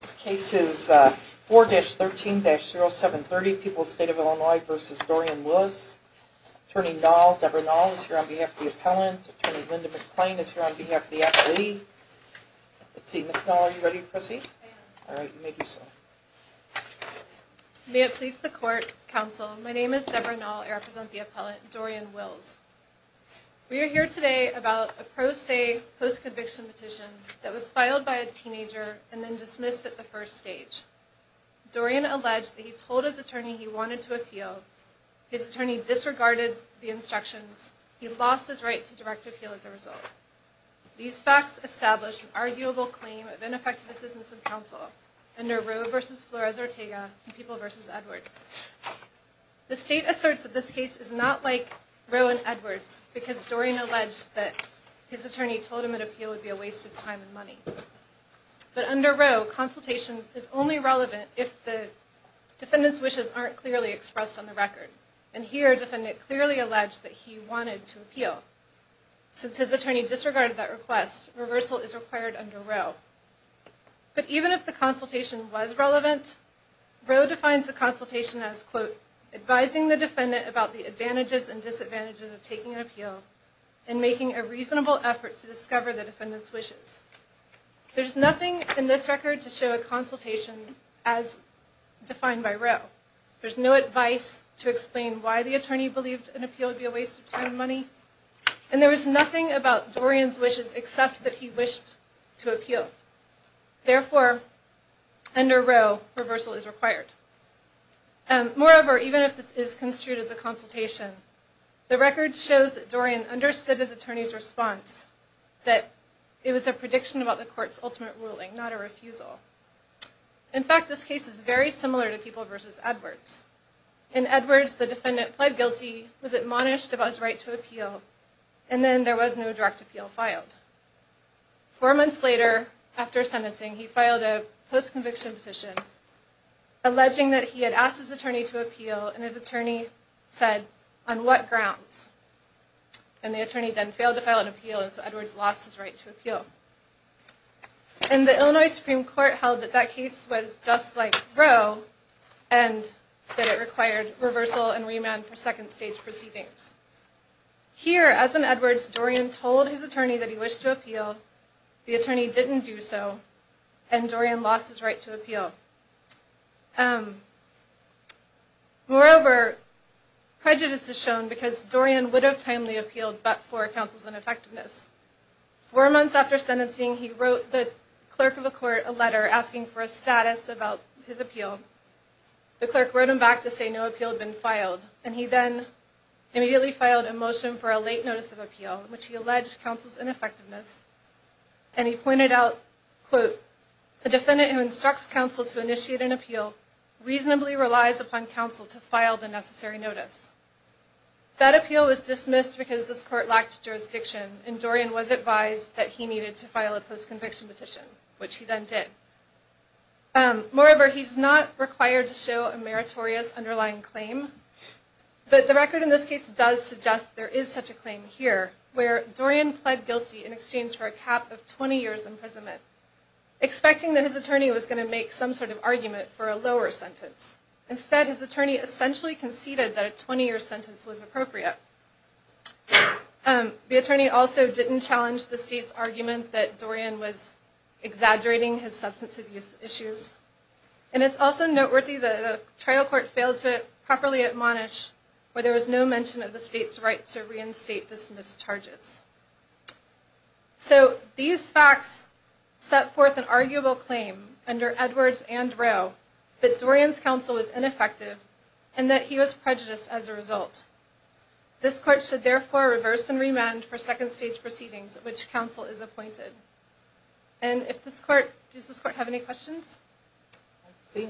This case is 4-13-0730, People's State of Illinois v. Dorian Willis. Attorney Noll, Debra Noll, is here on behalf of the appellant. Attorney Linda McClain is here on behalf of the appellee. Let's see, Ms. Noll, are you ready to proceed? All right, you may do so. May it please the Court, Counsel, my name is Debra Noll. I represent the appellant, Dorian Willis. We are here today about a pro se post-conviction petition that was filed by a teenager and then dismissed at the first stage. Dorian alleged that he told his attorney he wanted to appeal. His attorney disregarded the instructions. He lost his right to direct appeal as a result. These facts establish an arguable claim of ineffective assistance of counsel under Roe v. Flores-Ortega and People v. Edwards. The state asserts that this case is not like Roe and Edwards because Dorian alleged that his attorney told him an appeal would be a waste of time and money. But under Roe, consultation is only relevant if the defendant's wishes aren't clearly expressed on the record. And here, the defendant clearly alleged that he wanted to appeal. Since his attorney disregarded that request, reversal is required under Roe. But even if the consultation was relevant, Roe defines the consultation as, quote, advising the defendant about the advantages and disadvantages of taking an appeal and making a reasonable effort to discover the defendant's wishes. There's nothing in this record to show a consultation as defined by Roe. There's no advice to explain why the attorney believed an appeal would be a waste of time and money. And there was nothing about Dorian's wishes except that he wished to appeal. Therefore, under Roe, reversal is required. And moreover, even if this is construed as a consultation, the record shows that Dorian understood his attorney's response, that it was a prediction about the court's ultimate ruling, not a refusal. In fact, this case is very similar to People v. Edwards. In Edwards, the defendant pled guilty, was admonished about his right to appeal, and then there was no direct appeal filed. Four months later, after sentencing, he filed a post-conviction petition, alleging that he had asked his attorney to appeal, and his attorney said, on what grounds? And the attorney then failed to file an appeal, and so Edwards lost his right to appeal. And the Illinois Supreme Court held that that case was just like Roe, and that it required reversal and remand for second stage proceedings. Here, as in Edwards, Dorian told his attorney that he wished to appeal, the attorney didn't do so, and Dorian lost his right to appeal. Um, moreover, prejudice is shown because Dorian would have timely appealed, but for counsel's ineffectiveness. Four months after sentencing, he wrote the clerk of the court a letter asking for a status about his appeal. The clerk wrote him back to say no appeal had been filed, and he then immediately filed a motion for a late notice of appeal, which he alleged counsel's appeal reasonably relies upon counsel to file the necessary notice. That appeal was dismissed because this court lacked jurisdiction, and Dorian was advised that he needed to file a post-conviction petition, which he then did. Um, moreover, he's not required to show a meritorious underlying claim, but the record in this case does suggest there is such a claim here, where Dorian pled guilty in exchange for a cap of 20 years imprisonment, expecting that his attorney was going to make some sort of argument for a lower sentence. Instead, his attorney essentially conceded that a 20-year sentence was appropriate. Um, the attorney also didn't challenge the state's argument that Dorian was exaggerating his substance abuse issues, and it's also noteworthy the trial court failed to properly admonish where there was no mention of the state's right to under Edwards and Rowe, that Dorian's counsel was ineffective, and that he was prejudiced as a result. This court should therefore reverse and remand for second stage proceedings at which counsel is appointed. And if this court, does this court have any questions? I see none.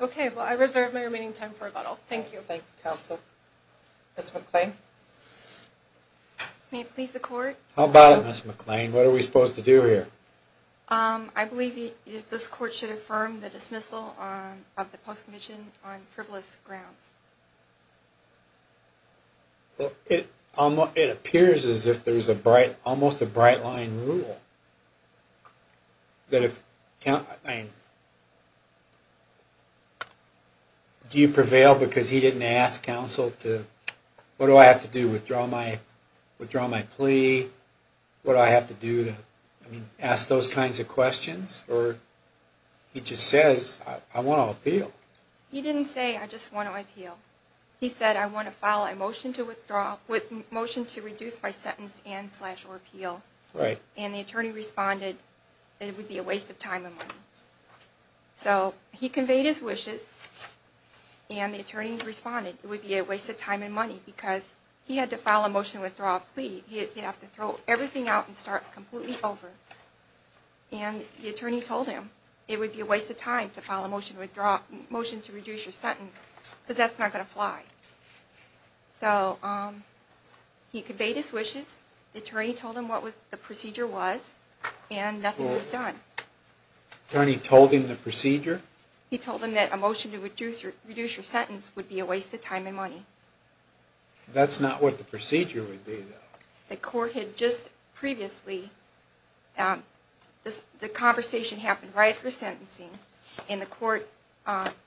Okay, well I reserve my remaining time for rebuttal. Thank you. Thank you, counsel. Ms. McClain? May it please the court? How about it, Ms. McClain? What are we supposed to do here? Um, I believe this court should affirm the dismissal of the post-commission on frivolous grounds. Well, it, it appears as if there's a bright, almost a bright line rule, that if, do you prevail because he didn't ask counsel to, what do I have to do? Withdraw my, plea? What do I have to do to, I mean, ask those kinds of questions? Or, he just says, I want to appeal. He didn't say, I just want to appeal. He said, I want to file a motion to withdraw, with motion to reduce my sentence and slash or appeal. Right. And the attorney responded, it would be a waste of time and money. So, he conveyed his wishes, and the attorney responded, it would be a waste of time and money, because he had to file a motion to withdraw a plea. He'd have to throw everything out and start completely over. And the attorney told him, it would be a waste of time to file a motion to withdraw, motion to reduce your sentence, because that's not going to fly. So, um, he conveyed his wishes, the attorney told him what the procedure was, and nothing was done. The attorney told him the procedure? He told him that a motion to reduce your sentence would be a waste of time and money. That's not what the procedure would be, though. The court had just previously, um, the conversation happened right after sentencing, and the court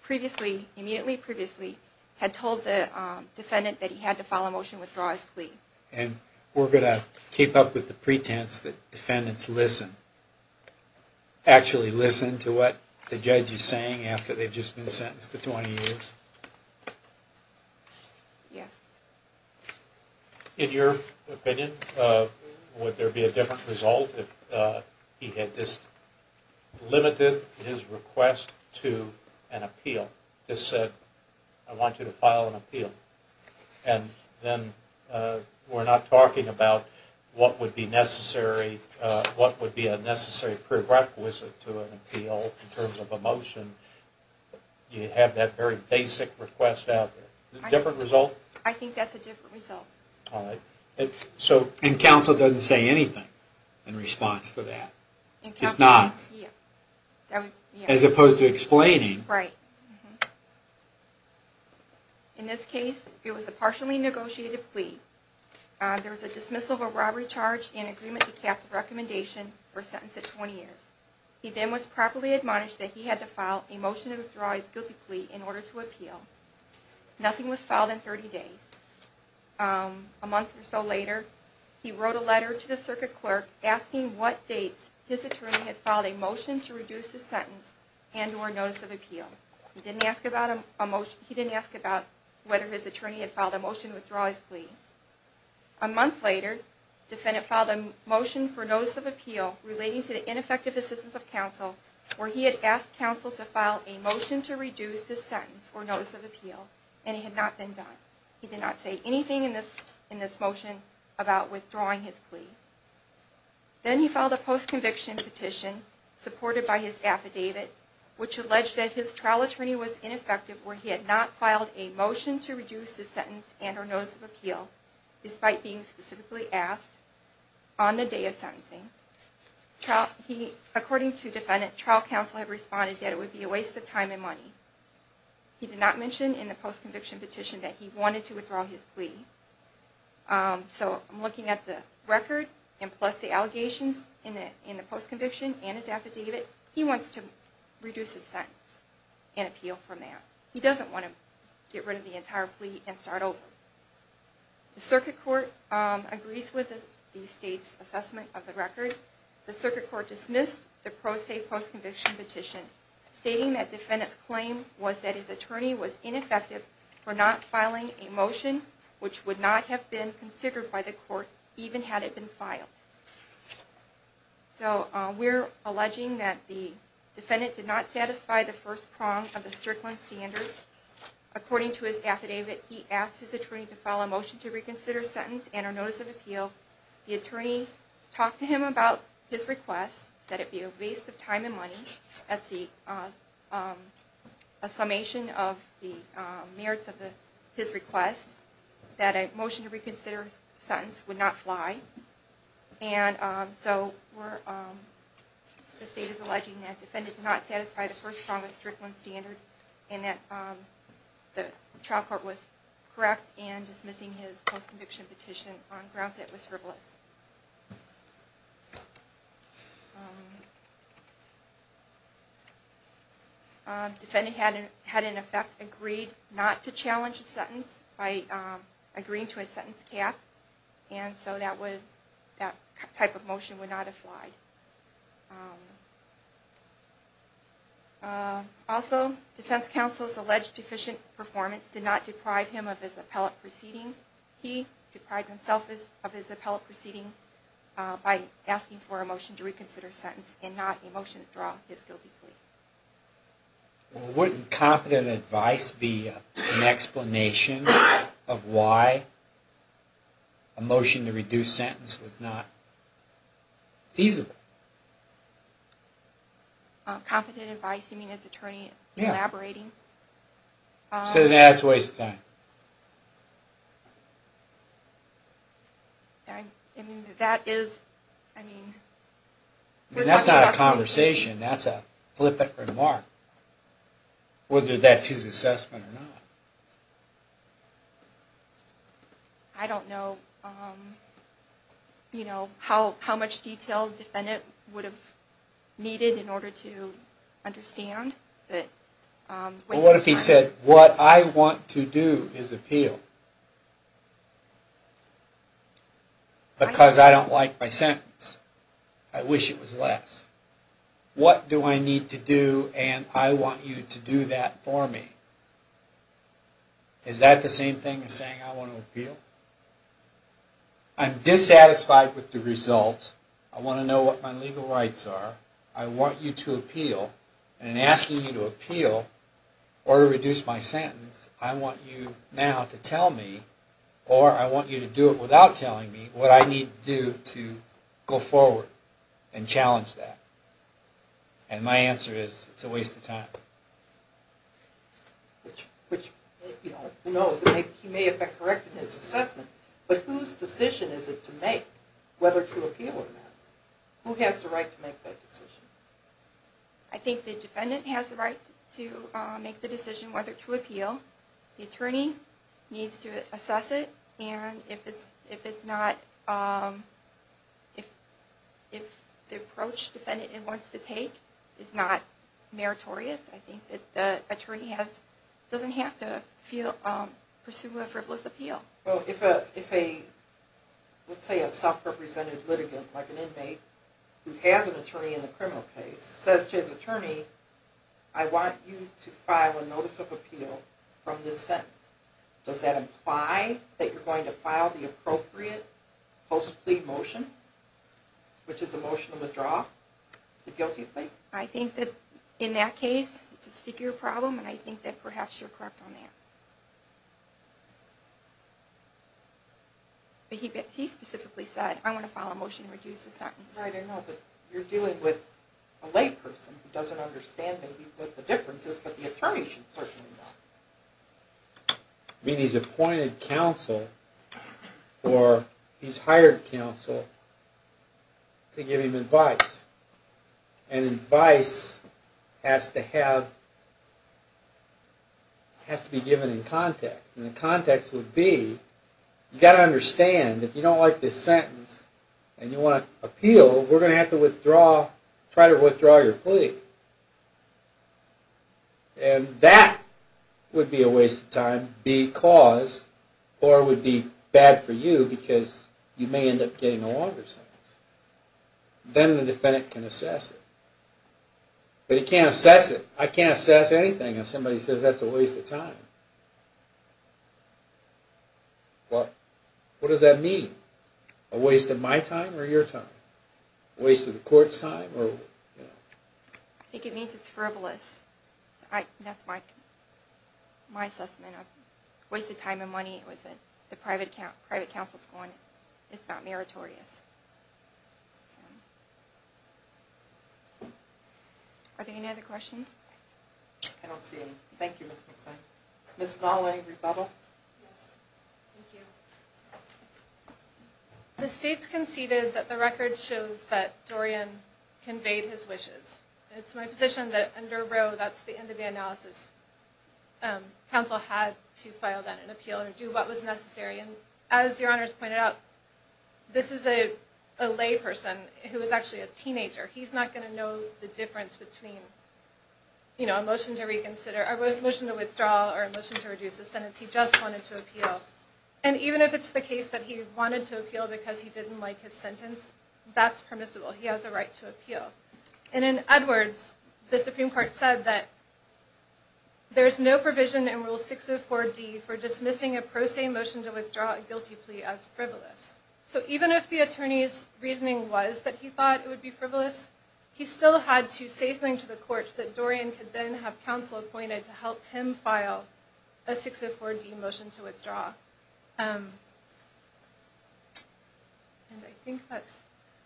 previously, immediately previously, had told the defendant that he had to file a motion to withdraw his plea. And we're going to keep up with the pretense that defendants listen, um, actually listen to what the judge is saying after they've just been sentenced to 20 years. Yeah. In your opinion, uh, would there be a different result if, uh, he had just limited his request to an appeal? Just said, I want you to file an appeal. And then, uh, we're not talking about what would be necessary, uh, what would be a necessary prerequisite to an appeal in terms of a motion. You have that very basic request out there. A different result? I think that's a different result. All right. So, and counsel doesn't say anything in response to that. It's not. As opposed to explaining. Right. Mm-hmm. In this case, it was a partially negotiated plea. Uh, there was a dismissal of a robbery charge and agreement to cap the recommendation for a sentence of 20 years. He then was properly admonished that he had to file a motion to withdraw his guilty plea in order to appeal. Nothing was filed in 30 days. Um, a month or so later, he wrote a letter to the circuit clerk asking what dates his attorney had filed a motion to reduce his sentence and or notice of appeal. He didn't ask about a motion, he didn't ask about whether his attorney had filed a motion to withdraw his plea. A month later, defendant filed a motion for notice of appeal relating to the ineffective assistance of counsel where he had asked counsel to file a motion to reduce his sentence or notice of appeal and it had not been done. He did not say anything in this, in this motion about withdrawing his plea. Then he filed a post-conviction petition supported by his affidavit which alleged that his trial attorney was ineffective where he had not filed a motion to reduce his sentence and or notice of appeal despite being specifically asked on the day of sentencing. He, according to defendant, trial counsel had responded that it would be a waste of time and money. He did not mention in the post-conviction petition that he wanted to withdraw his plea. Um, so I'm looking at the record and plus the allegations in the, post-conviction and his affidavit, he wants to reduce his sentence and appeal from that. He doesn't want to get rid of the entire plea and start over. The circuit court, um, agrees with the state's assessment of the record. The circuit court dismissed the pro se post-conviction petition stating that defendant's claim was that his attorney was ineffective for not filing a motion to reconsider his sentence. So we're alleging that the defendant did not satisfy the first prong of the Strickland standard. According to his affidavit, he asked his attorney to file a motion to reconsider sentence and or notice of appeal. The attorney talked to him about his request, said it'd be a waste of time and money. That's the, um, a summation of the merits of the, his request that a motion to reconsider sentence would not fly. And, um, so we're, um, the state is alleging that defendant did not satisfy the first prong of Strickland standard and that, um, the trial court was correct in dismissing his post-conviction petition on grounds that it was frivolous. Um, defendant had, had in effect agreed not to challenge a sentence by, um, agreeing to a sentence cap. And so that would, that type of motion would not have flied. Um, uh, also defense counsel's alleged deficient performance did not deprive him of his appellate proceeding. He deprived himself of his appellate proceeding, uh, by asking for a motion to reconsider sentence and not a motion to withdraw his guilty plea. Well, wouldn't competent advice be an explanation of why a motion to reduce sentence was not feasible? Uh, competent advice, you mean as attorney elaborating? Yeah. Um. Says, yeah, it's a waste of time. I, I mean, that is, I mean. That's not a conversation, that's a flippant remark. Whether that's his assessment or not. I don't know, um, you know, how, how much detail defendant would have needed in order to understand that, um. Well, what if he said, what I want to do is appeal. Because I don't like my sentence. I wish it was less. What do I need to do and I want you to do that for me? Is that the same thing as saying I want to appeal? I'm dissatisfied with the result. I want to know what my legal rights are. I want you to appeal. And in asking you to appeal or tell me or I want you to do it without telling me what I need to do to go forward and challenge that. And my answer is, it's a waste of time. Which, which, you know, who knows? He may have been correct in his assessment. But whose decision is it to make whether to appeal or not? Who has the right to make that decision? I think the defendant has the right to make the decision whether to appeal. The attorney needs to assess it. And if it's, if it's not, um, if, if the approach defendant wants to take is not meritorious, I think that the attorney has, doesn't have to feel, um, pursue a frivolous appeal. Well, if a, if a, let's say a self-represented litigant, like an inmate, who has an attorney in the criminal case, says to his attorney, I want you to file a notice of appeal from this sentence. Does that imply that you're going to file the appropriate post-plea motion, which is a motion to withdraw the guilty plea? I think that in that case, it's a stickier problem, and I think that perhaps you're correct on that. But he, he specifically said, I want to file a motion to reduce the sentence. Right, I know, but you're dealing with a layperson who doesn't understand maybe what the difference is, but the attorney should certainly know. I mean, he's appointed counsel, or he's hired counsel to give him advice. And advice has to have, has to be given in context. And the context would be, you've got to understand, if you don't like this sentence, and you want appeal, we're going to have to withdraw, try to withdraw your plea. And that would be a waste of time, because, or would be bad for you, because you may end up getting a longer sentence. Then the defendant can assess it. But he can't assess it. I can't assess anything if somebody says that's a waste of time. Well, what does that mean? A waste of my time, or your time? A waste of the court's time, or? I think it means it's frivolous. I, that's my, my assessment of wasted time and money. It was a, the private account, private counsel's going, it's not meritorious. Are there any other questions? I don't see any. Thank you, Ms. McClain. Ms. Gawley, Rebubble? Yes, thank you. The state's conceded that the record shows that Dorian conveyed his wishes. It's my position that under Roe, that's the end of the analysis. Counsel had to file that, and appeal, or do what was necessary. And as your honors pointed out, this is a, a lay person who is actually a teenager. He's not going to know the difference between, you know, a motion to reconsider, a motion to withdraw, or a motion to reduce the sentence. He just wanted to appeal. And even if it's the case that he wanted to appeal because he didn't like his sentence, that's permissible. He has a right to appeal. And in Edwards, the Supreme Court said that there's no provision in Rule 604D for dismissing a pro se motion to withdraw a guilty as frivolous. So even if the attorney's reasoning was that he thought it would be frivolous, he still had to say something to the court that Dorian could then have counsel appointed to help him file a 604D motion to withdraw. And I think that's,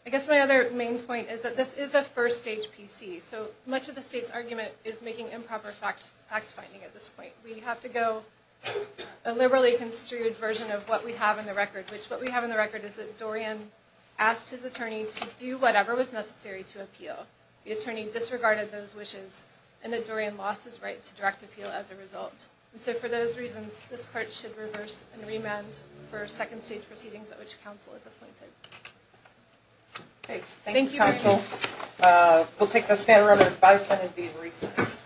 I guess my other main point is that this is a first stage PC. So much of the state's argument is making improper fact, fact finding at this point. We have to go a liberally construed version of what we have in the record, which what we have in the record is that Dorian asked his attorney to do whatever was necessary to appeal. The attorney disregarded those wishes and that Dorian lost his right to direct appeal as a result. And so for those reasons, this court should reverse and remand for second stage proceedings at which counsel is appointed. Okay. Thank you counsel. We'll take this panel advice and be in recess.